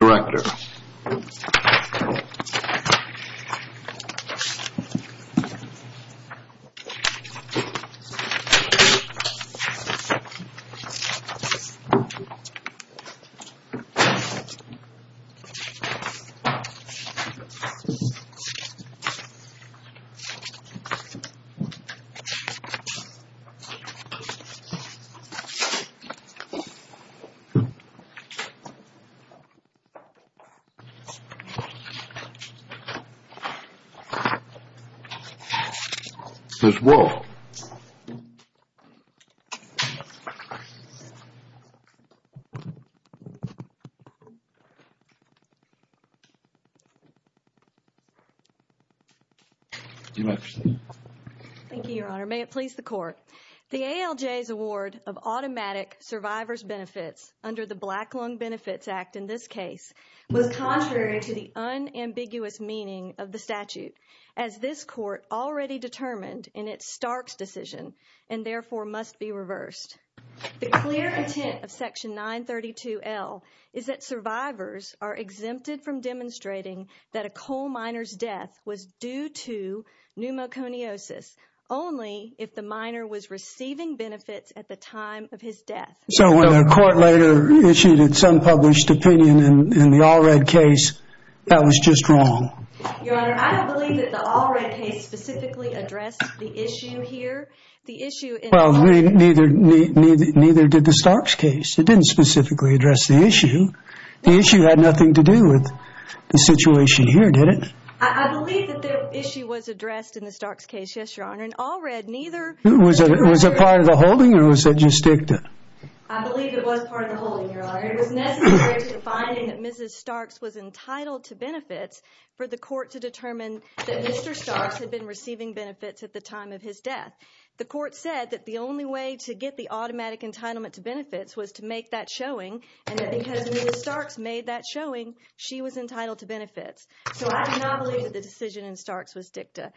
November 12, 2011 The ALJ's Award of Automatic Survivors Benefits under the Black Lung Benefits Act in this case was contrary to the unambiguous meaning of the statute, as this Court already determined in its Starks decision, and therefore must be reversed. The clear intent of Section 932L is that survivors are exempted from demonstrating that a coal miner's death was due to pneumoconiosis only if the miner was receiving benefits at the time of his death. So when a court later issued its unpublished opinion in the Allred case, that was just wrong? Your Honor, I don't believe that the Allred case specifically addressed the issue here. The issue in the Starks case... Well, neither did the Starks case. It didn't specifically address the issue. The issue had nothing to do with the situation here, did it? I believe that the issue was addressed in the Starks case, yes, Your Honor. In Allred, neither... Was it part of the holding, or was it just dicta? I believe it was part of the holding, Your Honor. It was necessary to the finding that Mrs. Starks was entitled to benefits for the Court to determine that Mr. Starks had been receiving benefits at the time of his death. The Court said that the only way to get the automatic entitlement to benefits was to make that showing, and that because Mrs. Starks made that showing, she was entitled to benefits. So I do not believe that the decision in Starks was dicta.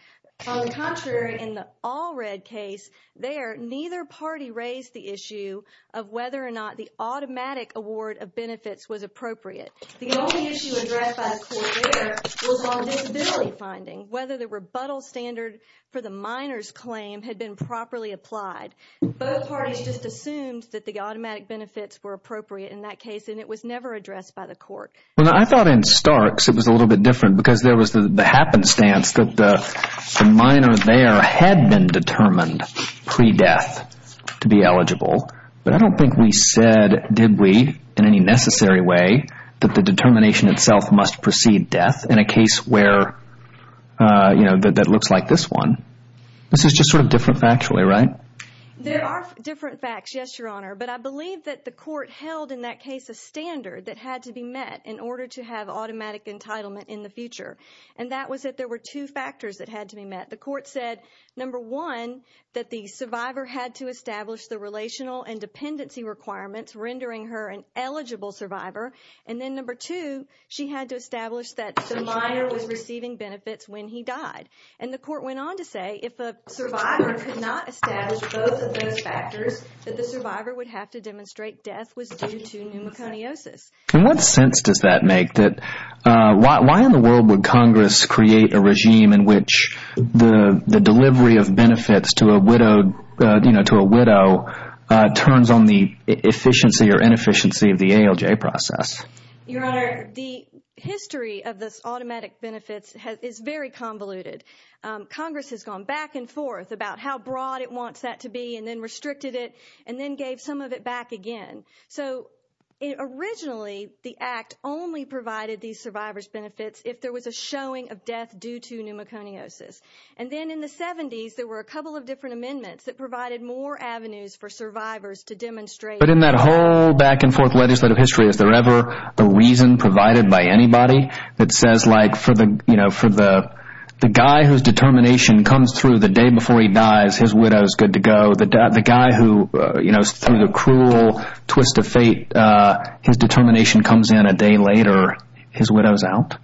On the contrary, in the Allred case there, neither party raised the issue of whether or not the automatic award of benefits was appropriate. The only issue addressed by the Court there was on disability finding, whether the rebuttal standard for the minor's claim had been properly applied. Both parties just assumed that the automatic benefits were appropriate in that case, and it was never addressed by the Court. Well, I thought in Starks it was a little bit different because there was the happenstance that the minor there had been determined pre-death to be eligible, but I don't think we said, did we, in any necessary way, that the determination itself must precede death in a case where, you know, that looks like this one. This is just sort of different factually, right? There are different facts, yes, Your Honor, but I believe that the Court held in that case a standard that had to be met in order to have automatic entitlement in the future, and that was that there were two factors that had to be met. The Court said, number one, that the survivor had to establish the relational and dependency requirements rendering her an eligible survivor, and then number two, she had to establish that the minor was receiving benefits when he died. And the Court went on to say, if a survivor could not establish both of those factors, that the survivor would have to demonstrate death was due to pneumoconiosis. In what sense does that make? Why in the world would Congress create a regime in which the delivery of benefits to a widow turns on the efficiency or inefficiency of the ALJ process? Your Honor, the history of this automatic benefits is very convoluted. Congress has gone back and forth about how broad it wants that to be and then restricted it and then gave some of it back again. So, originally, the Act only provided these survivor's benefits if there was a showing of death due to pneumoconiosis. And then in the 70s, there were a couple of different amendments that provided more avenues for survivors to demonstrate. But in that whole back and forth legislative history, is there ever a reason provided by anybody that says, like, for the guy whose determination comes through the day before he dies, his widow is good to go, the guy who, you know, through the cruel twist of fate, his determination comes in a day later, his widow is out?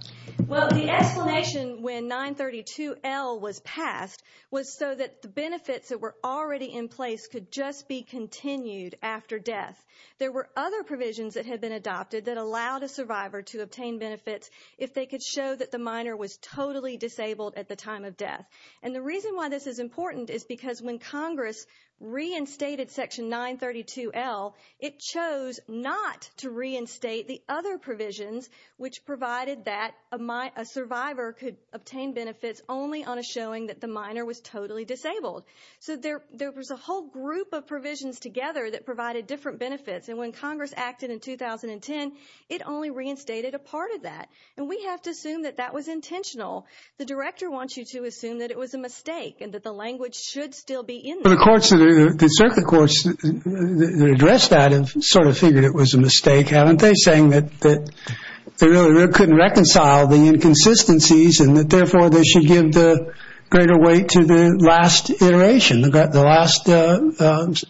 Well, the explanation when 932L was passed was so that the benefits that were already in place could just be continued after death. There were other provisions that had been adopted that allowed a survivor to obtain benefits if they could show that the minor was totally disabled at the time of death. And the reason why this is important is because when Congress reinstated Section 932L, it chose not to reinstate the other provisions, which provided that a survivor could obtain benefits only on a showing that the minor was totally disabled. So there was a whole group of provisions together that provided different benefits. And when Congress acted in 2010, it only reinstated a part of that. And we have to assume that that was intentional. The director wants you to assume that it was a mistake and that the language should still be in there. But the courts, the circuit courts that addressed that have sort of figured it was a mistake, haven't they, saying that they really couldn't reconcile the inconsistencies and that therefore they should give the greater weight to the last iteration, the last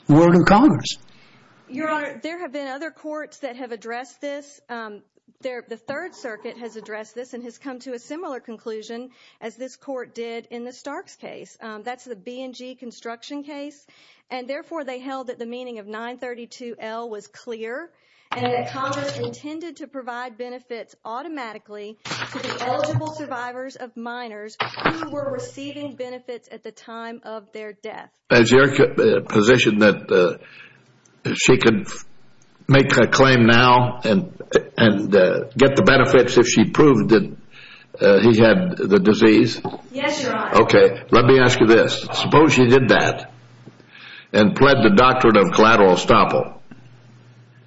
word of Congress? Your Honor, there have been other courts that have addressed this. The Third Circuit has addressed this and has come to a similar conclusion as this court did in the Starks case. That's the B&G construction case. And therefore they held that the meaning of 932L was clear and that Congress intended to provide benefits automatically to the eligible survivors of minors who were receiving benefits at the time of their death. Is your position that she could make a claim now and get the benefits if she proved that he had the disease? Yes, Your Honor. Okay. Let me ask you this. Suppose she did that and pled the doctrine of collateral estoppel.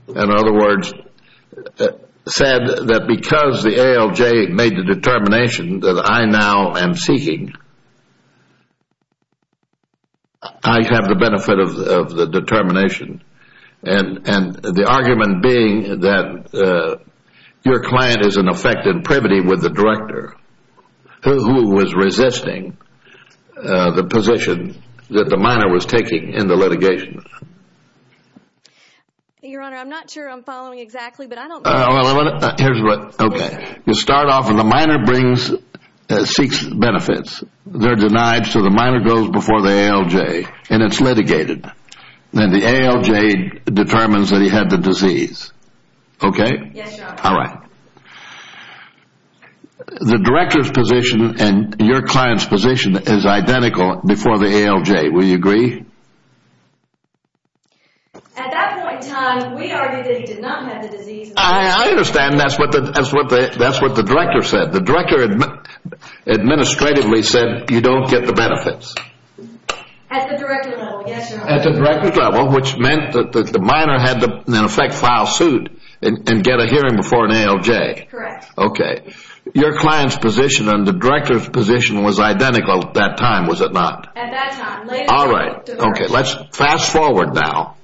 In other words, said that because the ALJ made the determination that I now am seeking, I have the benefit of the determination and the argument being that your client is in effect in privity with the director who was resisting the position that the minor was taking in the litigation. Your Honor, I'm not sure I'm following exactly, but I don't think... Here's what... Okay. You start off and the minor seeks benefits. They're denied. So the minor goes before the ALJ and it's litigated and the ALJ determines that he had the disease. Okay? Yes, Your Honor. All right. The director's position and your client's position is identical before the ALJ. Will you agree? At that point in time, we argue that he did not have the disease. I understand. That's what the director said. The director administratively said you don't get the benefits. At the director's level, yes, Your Honor. At the director's level, which meant that the minor had to, in effect, file suit and get a hearing before an ALJ. Correct. Okay. Your client's position and the director's position was identical at that time, was it not? At that time. Later, the director... All right. Okay. Now, let's fast forward now.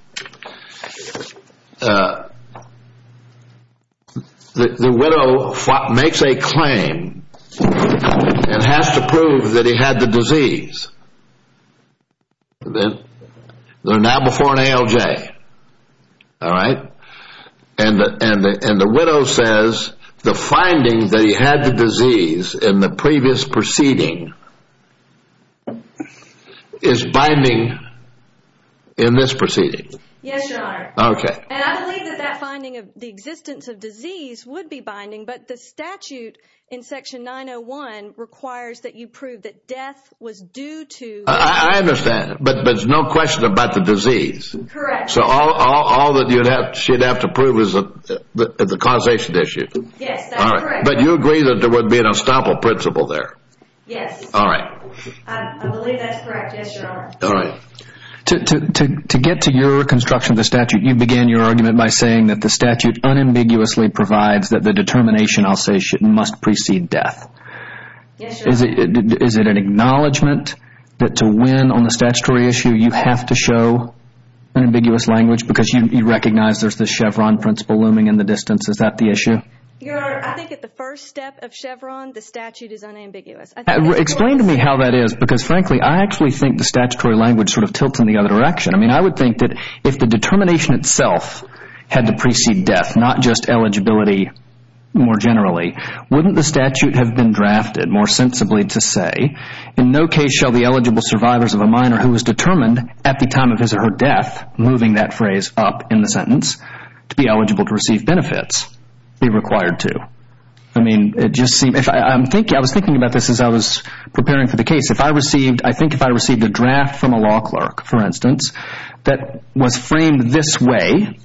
The widow makes a claim and has to prove that he had the disease. They're now before an ALJ, all right, and the widow says the finding that he had the in this proceeding? Yes, Your Honor. Okay. And I believe that that finding of the existence of disease would be binding, but the statute in section 901 requires that you prove that death was due to... I understand, but there's no question about the disease. Correct. So all that she'd have to prove is the causation issue. Yes, that's correct. All right. But you agree that there would be an estoppel principle there? Yes. All right. I believe that's correct. Yes, Your Honor. All right. To get to your construction of the statute, you began your argument by saying that the statute unambiguously provides that the determination, I'll say, must precede death. Yes, Your Honor. Is it an acknowledgment that to win on the statutory issue, you have to show an ambiguous language because you recognize there's the Chevron principle looming in the distance? Is that the issue? Your Honor, I think at the first step of Chevron, the statute is unambiguous. Explain to me how that is because, frankly, I actually think the statutory language sort of tilts in the other direction. I mean, I would think that if the determination itself had to precede death, not just eligibility more generally, wouldn't the statute have been drafted more sensibly to say, in no case shall the eligible survivors of a minor who was determined at the time of his or her death, moving that phrase up in the sentence, to be eligible to receive benefits be required to? I mean, I was thinking about this as I was preparing for the case. If I received, I think if I received a draft from a law clerk, for instance, that was framed this way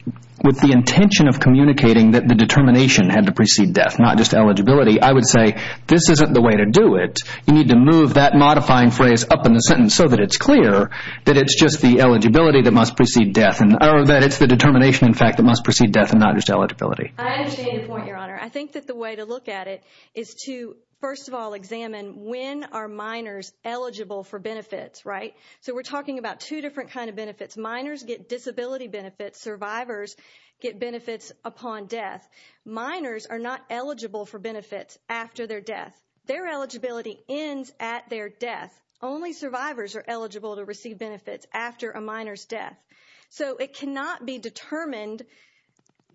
with the intention of communicating that the determination had to precede death, not just eligibility, I would say, this isn't the way to do it. You need to move that modifying phrase up in the sentence so that it's clear that it's just the eligibility that must precede death, or that it's the determination, in fact, that must precede death and not just eligibility. I understand your point, Your Honor. I think that the way to look at it is to, first of all, examine when are minors eligible for benefits, right? So we're talking about two different kind of benefits. Minors get disability benefits. Survivors get benefits upon death. Minors are not eligible for benefits after their death. Their eligibility ends at their death. Only survivors are eligible to receive benefits after a minor's death. So it cannot be determined,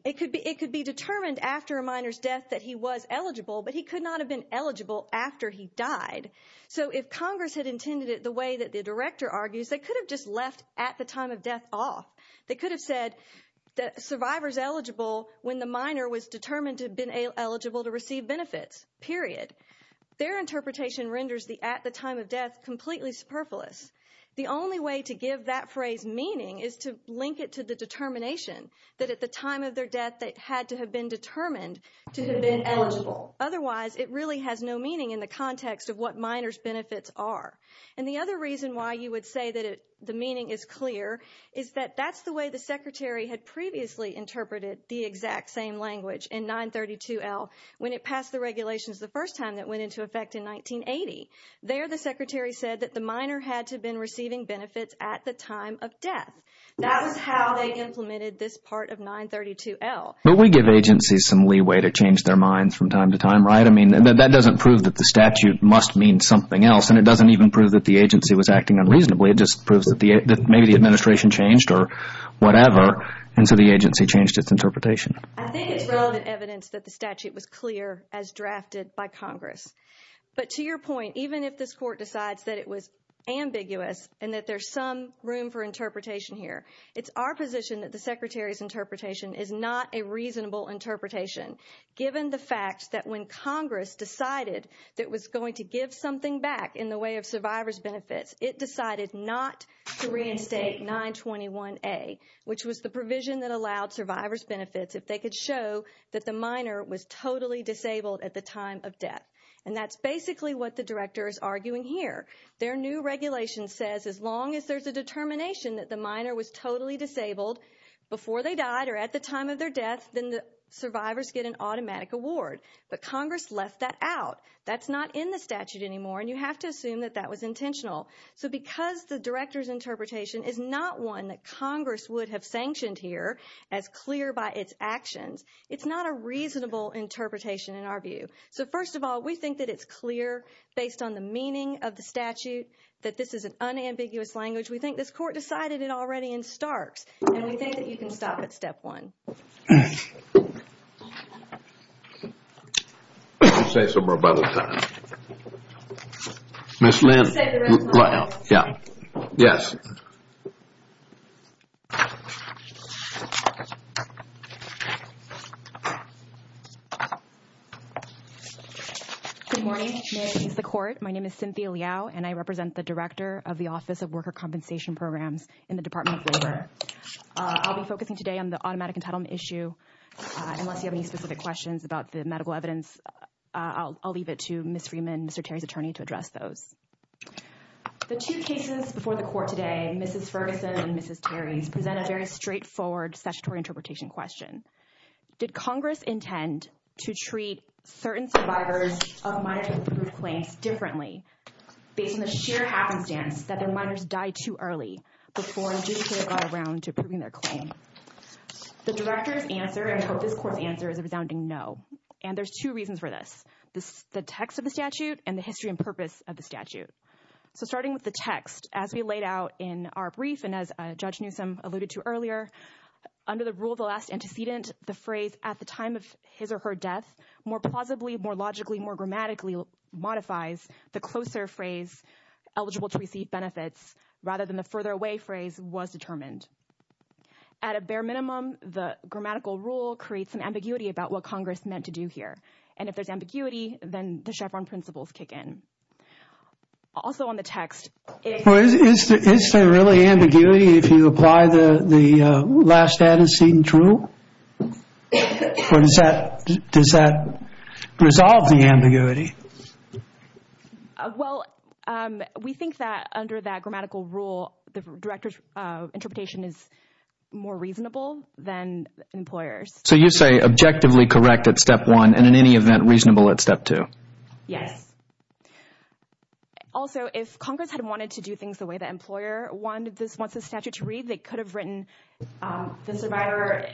it could be determined after a minor's death that he was eligible, but he could not have been eligible after he died. So if Congress had intended it the way that the Director argues, they could have just left at the time of death off. They could have said that survivor's eligible when the minor was determined to have been eligible to receive benefits, period. Their interpretation renders the at the time of death completely superfluous. The only way to give that phrase meaning is to link it to the determination that at the time of their death they had to have been determined to have been eligible. Otherwise, it really has no meaning in the context of what minor's benefits are. And the other reason why you would say that the meaning is clear is that that's the way the Secretary had previously interpreted the exact same language in 932L when it passed the regulations the first time that went into effect in 1980. There, the Secretary said that the minor had to have been receiving benefits at the time of death. That was how they implemented this part of 932L. But we give agencies some leeway to change their minds from time to time, right? I mean, that doesn't prove that the statute must mean something else, and it doesn't even prove that the agency was acting unreasonably. It just proves that maybe the administration changed or whatever, and so the agency changed its interpretation. I think it's relevant evidence that the statute was clear as drafted by Congress. But to your point, even if this Court decides that it was ambiguous and that there's some room for interpretation here, it's our position that the Secretary's interpretation is not a reasonable interpretation, given the fact that when Congress decided that it was going to give something back in the way of survivors' benefits, it decided not to reinstate 921A, which was the provision that allowed survivors' benefits if they could show that the minor was totally disabled at the time of death. And that's basically what the Director is arguing here. Their new regulation says as long as there's a determination that the minor was totally disabled before they died or at the time of their death, then the survivors get an automatic award. But Congress left that out. That's not in the statute anymore, and you have to assume that that was intentional. So because the Director's interpretation is not one that Congress would have sanctioned here as clear by its actions, it's not a reasonable interpretation in our view. So first of all, we think that it's clear based on the meaning of the statute that this is an unambiguous language. We think this Court decided it already in Starks, and we think that you can stop at step one. Good morning, may it please the Court. My name is Cynthia Liao, and I represent the Director of the Office of Worker Compensation Programs in the Department of Labor. I'll be focusing today on the automatic entitlement issue. Unless you have any specific questions about the medical evidence, I'll leave it to Ms. Freeman, Mr. Terry's attorney, to address those. The two cases before the Court today, Mrs. Ferguson and Mrs. Terry's, present a very straightforward statutory interpretation question. Did Congress intend to treat certain survivors of minor-to-improved claims differently based on the sheer happenstance that their minors died too early before judiciary got around to approving their claim? The Director's answer, and I hope this Court's answer, is a resounding no. And there's two reasons for this, the text of the statute and the history and purpose of the statute. So starting with the text, as we laid out in our brief, and as Judge Newsom alluded to earlier, under the rule of the last antecedent, the phrase, at the time of his or her death, more plausibly, more logically, more grammatically modifies the closer phrase, eligible to receive benefits, rather than the further away phrase, was determined. At a bare minimum, the grammatical rule creates an ambiguity about what Congress meant to do here. And if there's ambiguity, then the Chevron principles kick in. Also on the text... Well, is there really ambiguity if you apply the last antecedent rule? Does that resolve the ambiguity? Well, we think that under that grammatical rule, the Director's interpretation is more reasonable than employers. So you say, objectively correct at step one, and in any event, reasonable at step two? Yes. Also, if Congress had wanted to do things the way the employer wanted the statute to have written, the survivor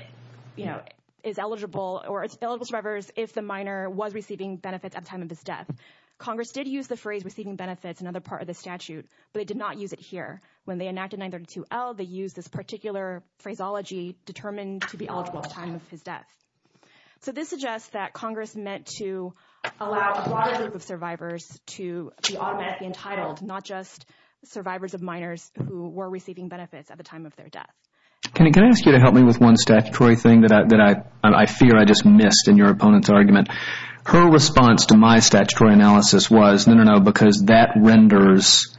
is eligible, or eligible survivors, if the minor was receiving benefits at the time of his death. Congress did use the phrase, receiving benefits, in another part of the statute, but they did not use it here. When they enacted 932L, they used this particular phraseology, determined to be eligible at the time of his death. So this suggests that Congress meant to allow a broader group of survivors to be automatically entitled, not just survivors of minors who were receiving benefits at the time of their death. Can I ask you to help me with one statutory thing that I fear I just missed in your opponent's argument? Her response to my statutory analysis was, no, no, no, because that renders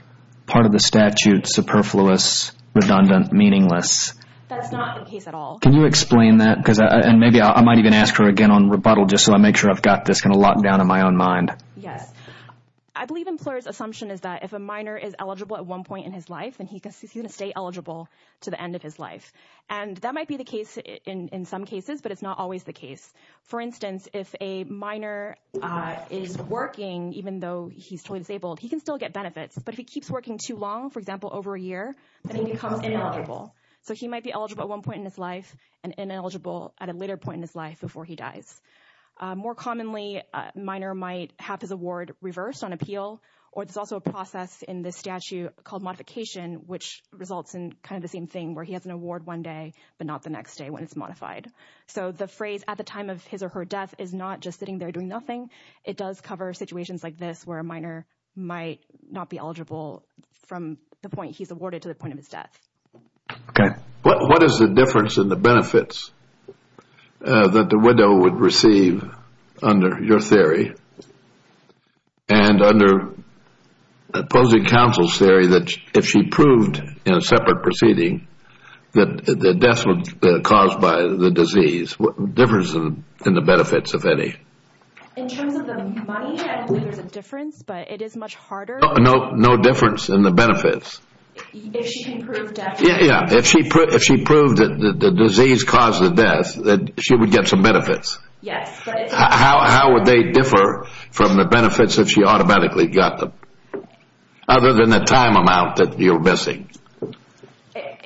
part of the statute superfluous, redundant, meaningless. That's not the case at all. Can you explain that? And maybe I might even ask her again on rebuttal, just so I make sure I've got this locked down in my own mind. Yes. I believe employers' assumption is that if a minor is eligible at one point in his life, then he's going to stay eligible to the end of his life. And that might be the case in some cases, but it's not always the case. For instance, if a minor is working, even though he's totally disabled, he can still get benefits. But if he keeps working too long, for example, over a year, then he becomes ineligible. So he might be eligible at one point in his life and ineligible at a later point in his life before he dies. More commonly, a minor might have his award reversed on appeal, or there's also a process in the statute called modification, which results in kind of the same thing, where he has an award one day, but not the next day when it's modified. So the phrase, at the time of his or her death, is not just sitting there doing nothing. It does cover situations like this, where a minor might not be eligible from the point he's awarded to the point of his death. Okay. What is the difference in the benefits that the widow would receive under your theory and under opposing counsel's theory, that if she proved in a separate proceeding that the death was caused by the disease, what difference is there in the benefits, if any? In terms of the money, I don't think there's a difference, but it is much harder. No difference in the benefits. If she can prove death. Yeah. If she proved that the disease caused the death, that she would get some benefits. Yes. How would they differ from the benefits that she automatically got, other than the time amount that you're missing?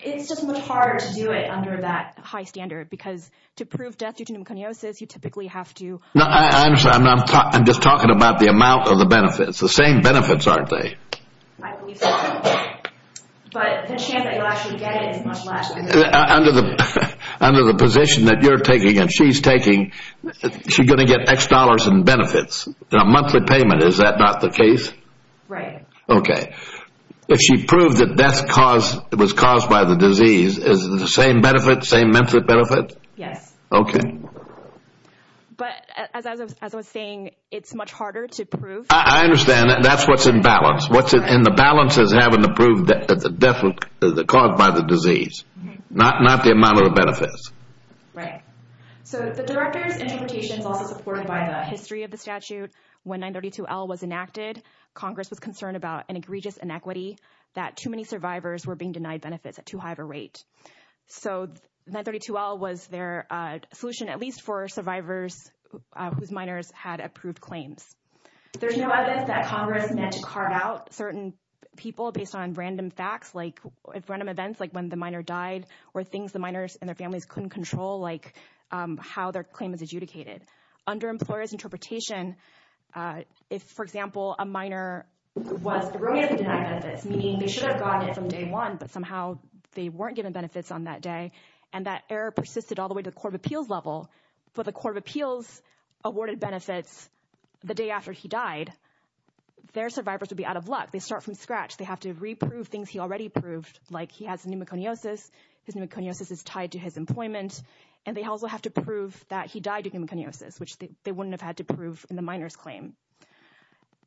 It's just much harder to do it under that high standard, because to prove death due to pneumoconiosis, you typically have to... No, I'm just talking about the amount of the benefits. The same benefits, aren't they? I believe so, but the chance that you'll actually get it is much less. Under the position that you're taking and she's taking, she's going to get X dollars in benefits. A monthly payment, is that not the case? Right. Okay. If she proved that death was caused by the disease, is it the same benefit, same monthly benefit? Yes. Okay. But as I was saying, it's much harder to prove. I understand that. That's what's in balance. The balance is having to prove that the death was caused by the disease, not the amount of the benefits. Right. The director's interpretation is also supported by the history of the statute. When 932L was enacted, Congress was concerned about an egregious inequity, that too many survivors were being denied benefits at too high of a rate. 932L was their solution, at least for survivors whose minors had approved claims. There's no evidence that Congress meant to carve out certain people based on random facts, like random events, like when the minor died, or things the minors and their families couldn't control, like how their claim is adjudicated. Under employers' interpretation, if, for example, a minor was erroneously denied benefits, meaning they should have gotten it from day one, but somehow they weren't given benefits on that day and that error persisted all the way to the Court of Appeals level, for the Court of Appeals awarded benefits the day after he died, their survivors would be out of luck. They start from scratch. They have to re-prove things he already proved, like he has pneumoconiosis, his pneumoconiosis is tied to his employment, and they also have to prove that he died of pneumoconiosis, which they wouldn't have had to prove in the minor's claim.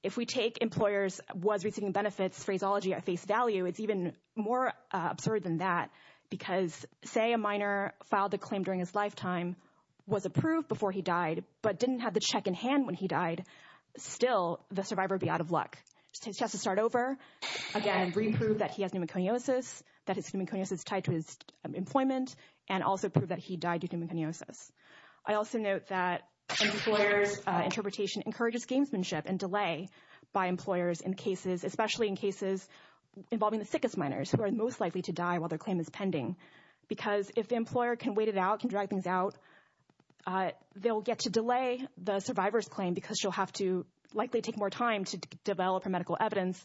If we take employers' was receiving benefits phraseology at face value, it's even more absurd than that, because say a minor filed a claim during his lifetime, was approved before he died, but didn't have the check in hand when he died, still, the survivor would be out of luck. So he has to start over, again, re-prove that he has pneumoconiosis, that his pneumoconiosis is tied to his employment, and also prove that he died due to pneumoconiosis. I also note that employers' interpretation encourages gamesmanship and delay by employers in cases, especially in cases involving the sickest minors, who are most likely to die while their claim is pending. Because if the employer can wait it out, can drag things out, they will get to delay the survivor's claim because she will likely have to take more time to develop her medical evidence,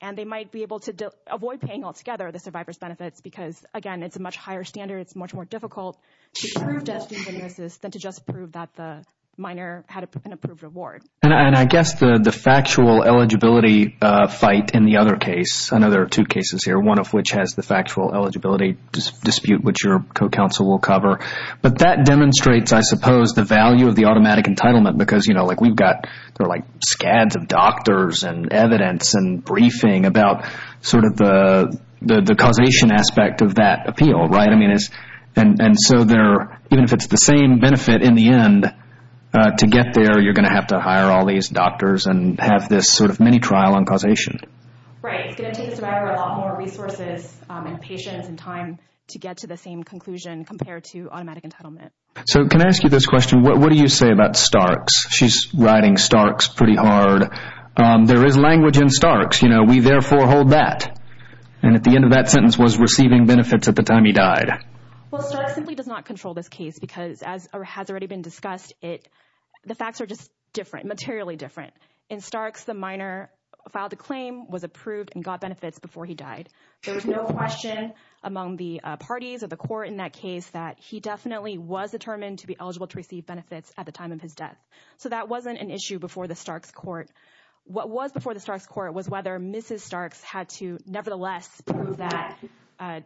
and they might be able to avoid paying altogether the survivor's benefits because, again, it's a much higher standard, it's much more difficult to prove that he has pneumoconiosis than to just prove that the minor had an approved award. I guess the factual eligibility fight in the other case, I know there are two cases here, one of which has the factual eligibility dispute, which your co-counsel will cover. But that demonstrates, I suppose, the value of the automatic entitlement because we've got scads of doctors and evidence and briefing about the causation aspect of that appeal. And so even if it's the same benefit in the end, to get there you're going to have to hire all these doctors and have this mini-trial on causation. Right, it's going to take the survivor a lot more resources and patience and time to get to the same conclusion compared to automatic entitlement. So can I ask you this question, what do you say about Starks? She's riding Starks pretty hard. There is language in Starks, you know, we therefore hold that. And at the end of that sentence was receiving benefits at the time he died. Well, Starks simply does not control this case because, as has already been discussed, the facts are just different, materially different. In Starks, the minor filed a claim, was approved, and got benefits before he died. There was no question among the parties of the court in that case that he definitely was determined to be eligible to receive benefits at the time of his death. So that wasn't an issue before the Starks court. What was before the Starks court was whether Mrs. Starks had to, nevertheless, prove that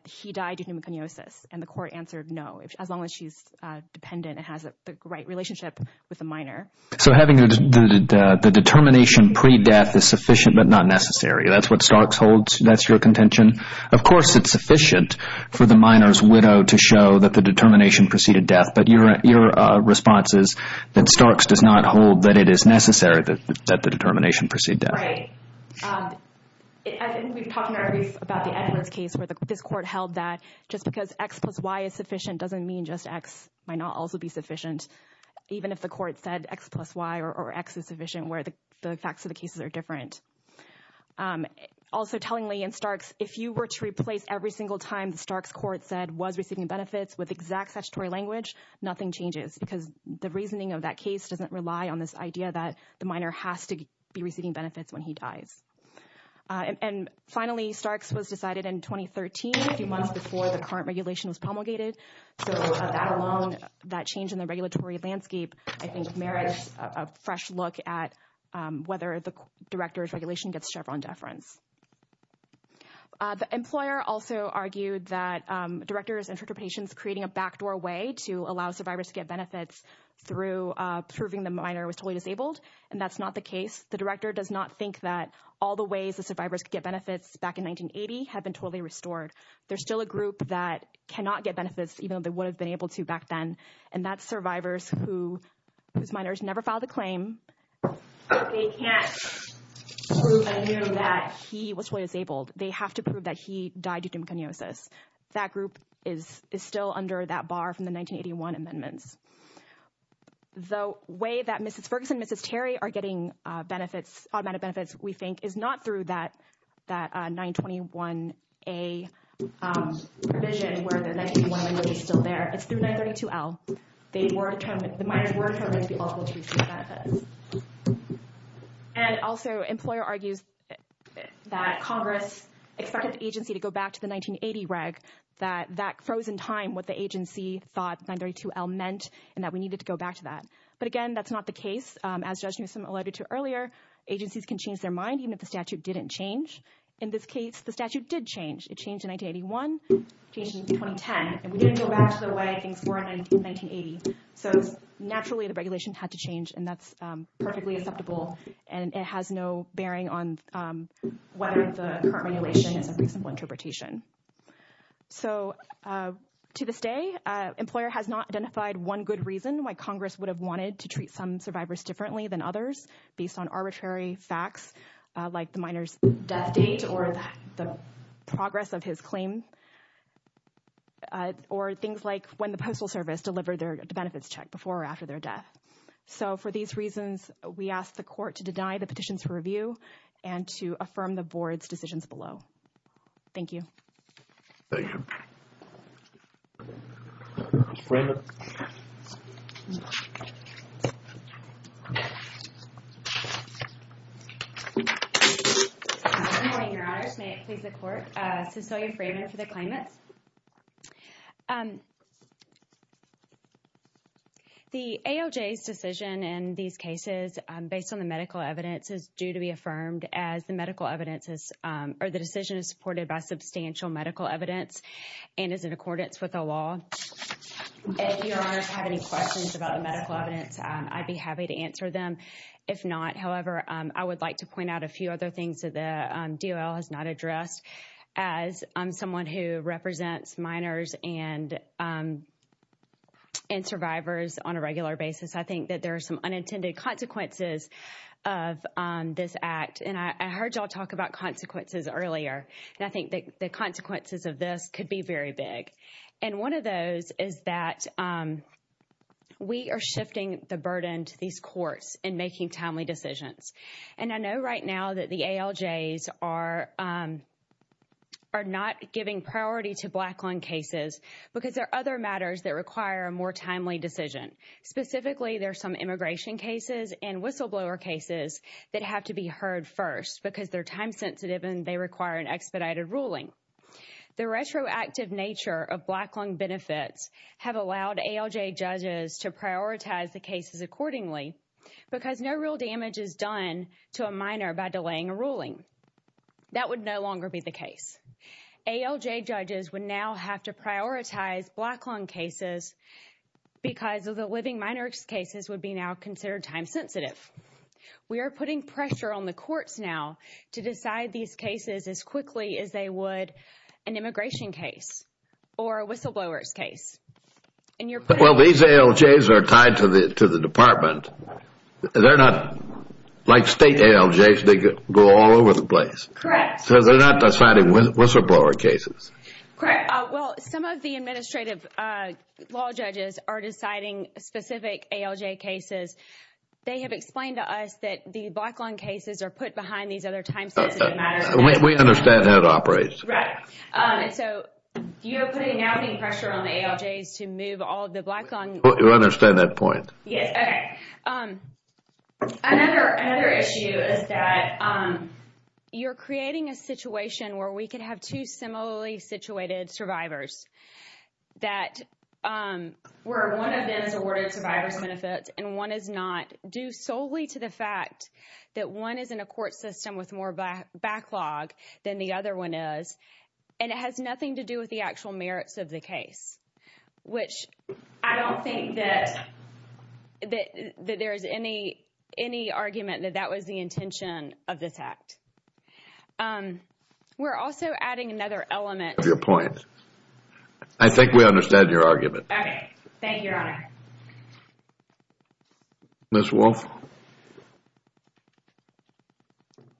he died due to pneumoconiosis. And the court answered no, as long as she's dependent and has the right relationship with the minor. So having the determination pre-death is sufficient but not necessary. That's what Starks holds, that's your contention? Of course it's sufficient for the minor's widow to show that the determination preceded death. But your response is that Starks does not hold that it is necessary that the determination preceded death. Right. I think we've talked in our brief about the Edwards case where this court held that just because X plus Y is sufficient doesn't mean just X might not also be sufficient. Even if the court said X plus Y or X is sufficient where the facts of the cases are different. Also tellingly in Starks, if you were to replace every single time the Starks court said was receiving benefits with exact statutory language, nothing changes. Because the reasoning of that case doesn't rely on this idea that the minor has to be receiving benefits when he dies. And finally, Starks was decided in 2013, a few months before the current regulation was promulgated. So that alone, that change in the regulatory landscape, I think merits a fresh look at whether the director's regulation gets Chevron deference. The employer also argued that director's interpretation is creating a backdoor way to allow survivors to get benefits through proving the minor was totally disabled. And that's not the case. The director does not think that all the ways the survivors could get benefits back in 1980 have been totally restored. There's still a group that cannot get benefits, even though they would have been able to back then. And that's survivors whose minors never filed a claim. They can't prove that he was totally disabled. They have to prove that he died due to pneumoconiosis. That group is still under that bar from the 1981 amendments. The way that Mrs. Ferguson and Mrs. Terry are getting benefits, we think, is not through that 921A provision where the 1991 amendment is still there. It's through 932L. The minors were determined to be eligible to receive benefits. And also, the employer argues that Congress expected the agency to go back to the 1980 reg, that that froze in time what the agency thought 932L meant, and that we needed to go back to that. But again, that's not the case. As Judge Newsom alluded to earlier, agencies can change their mind even if the statute didn't change. In this case, the statute did change. It changed in 1981. It changed in 2010. And we didn't go back to the way things were in 1980. So, naturally, the regulation had to change. And that's perfectly acceptable. And it has no bearing on whether the current regulation is a reasonable interpretation. So, to this day, the employer has not identified one good reason why Congress would have wanted to treat some survivors differently than others based on arbitrary facts like the minor's death date or the progress of his claim or things like when the Postal Service delivered their benefits check before or after their death. So, for these reasons, we ask the Court to deny the petitions for review and to affirm the Board's decisions below. Thank you. Thank you. Fraven. Good morning, Your Honors. May it please the Court? Cecilia Fraven for the claimants. The AOJ's decision in these cases based on the medical evidence is due to be affirmed as the decision is supported by substantial medical evidence. And is in accordance with the law. If Your Honors have any questions about the medical evidence, I'd be happy to answer them. If not, however, I would like to point out a few other things that the DOL has not addressed. As someone who represents minors and survivors on a regular basis, I think that there are some unintended consequences of this act. And I heard y'all talk about consequences earlier. And I think the consequences of this could be very big. And one of those is that we are shifting the burden to these courts in making timely decisions. And I know right now that the ALJs are not giving priority to black lung cases because there are other matters that require a more timely decision. Specifically, there are some immigration cases and whistleblower cases that have to be heard first because they're time sensitive and they require an expedited ruling. The retroactive nature of black lung benefits have allowed ALJ judges to prioritize the cases accordingly because no real damage is done to a minor by delaying a ruling. That would no longer be the case. ALJ judges would now have to prioritize black lung cases because of the living minor cases would be now considered time sensitive. We are putting pressure on the courts now to decide these cases as quickly as they would an immigration case or a whistleblower's case. Well, these ALJs are tied to the department. They're not like state ALJs. They go all over the place. Correct. So they're not deciding whistleblower cases. Correct. Well, some of the administrative law judges are deciding specific ALJ cases. They have explained to us that the black lung cases are put behind these other time sensitive matters. We understand how it operates. Right. So you're putting pressure on the ALJs to move all the black lung. You understand that point. Yes. Okay. Another issue is that you're creating a situation where we could have two similarly situated survivors where one of them is awarded survivor's benefits and one is not due solely to the fact that one is in a court system with more backlog than the other one is and it has nothing to do with the actual merits of the case, which I don't think that there is any argument that that was the intention of this act. We're also adding another element. I love your point. I think we understand your argument. Okay. Thank you, Your Honor. Ms. Wolfe.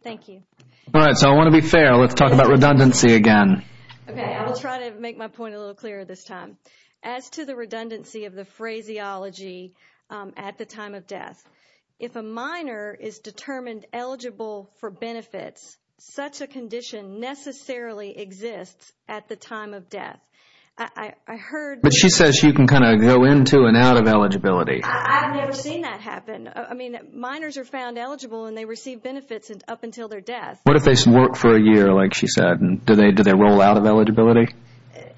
Thank you. All right. So I want to be fair. Let's talk about redundancy again. Okay. I will try to make my point a little clearer this time. As to the redundancy of the phraseology at the time of death, if a minor is determined eligible for benefits, such a condition necessarily exists at the time of death. But she says you can kind of go into and out of eligibility. I've never seen that happen. I mean, minors are found eligible and they receive benefits up until their death. What if they work for a year, like she said, and do they roll out of eligibility?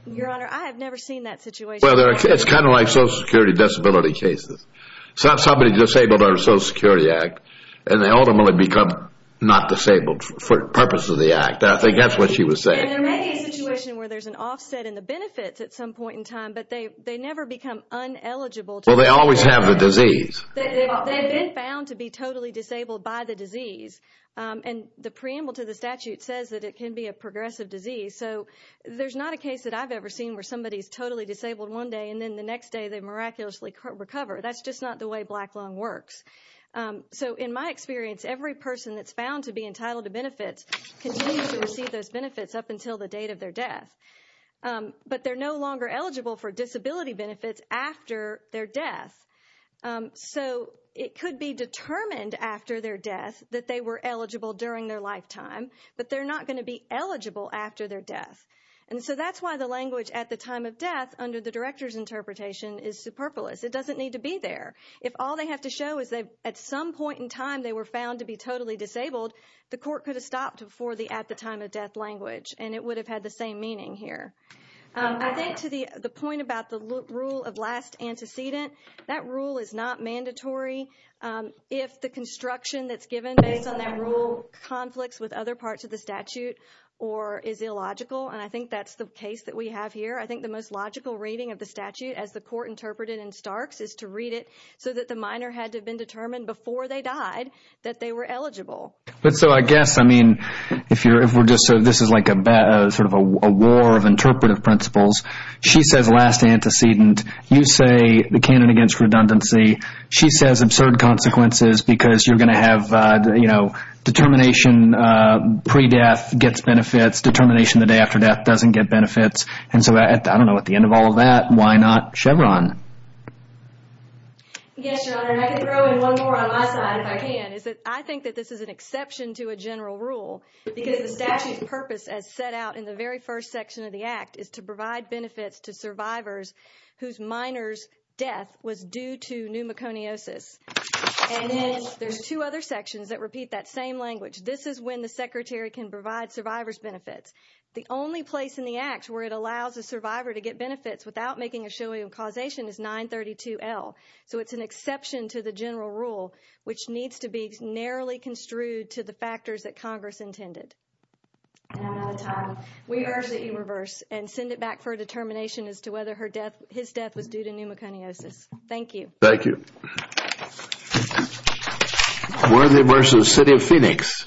Your Honor, I have never seen that situation. Well, it's kind of like Social Security disability cases. Somebody disabled under the Social Security Act and they ultimately become not disabled for the purpose of the act. I think that's what she was saying. I mean, there may be a situation where there's an offset in the benefits at some point in time, but they never become uneligible. Well, they always have the disease. They've been found to be totally disabled by the disease. And the preamble to the statute says that it can be a progressive disease. So there's not a case that I've ever seen where somebody is totally disabled one day and then the next day they miraculously recover. That's just not the way Black Lung works. So in my experience, every person that's found to be entitled to benefits continues to receive those benefits up until the date of their death. But they're no longer eligible for disability benefits after their death. So it could be determined after their death that they were eligible during their lifetime, but they're not going to be eligible after their death. And so that's why the language at the time of death, under the Director's interpretation, is superfluous. It doesn't need to be there. If all they have to show is at some point in time they were found to be totally disabled, the court could have stopped for the at-the-time-of-death language, and it would have had the same meaning here. I think to the point about the rule of last antecedent, that rule is not mandatory if the construction that's given based on that rule conflicts with other parts of the statute or is illogical. And I think that's the case that we have here. I think the most logical reading of the statute, as the court interpreted in Starks, is to read it so that the minor had to have been determined before they died that they were eligible. But so I guess, I mean, if we're just sort of, this is like a war of interpretive principles. She says last antecedent. You say the canon against redundancy. She says absurd consequences because you're going to have, you know, determination pre-death gets benefits, determination the day after death doesn't get benefits. And so I don't know, at the end of all of that, why not Chevron? Yes, Your Honor, and I can throw in one more on my side if I can. I think that this is an exception to a general rule because the statute's purpose, as set out in the very first section of the act, is to provide benefits to survivors whose minor's death was due to pneumoconiosis. And then there's two other sections that repeat that same language. This is when the secretary can provide survivors benefits. The only place in the act where it allows a survivor to get benefits without making a showing of causation is 932L. So it's an exception to the general rule, which needs to be narrowly construed to the factors that Congress intended. And I'm out of time. We urge that you reverse and send it back for a determination as to whether his death was due to pneumoconiosis. Thank you. Thank you. Worthy vs. City of Phoenix.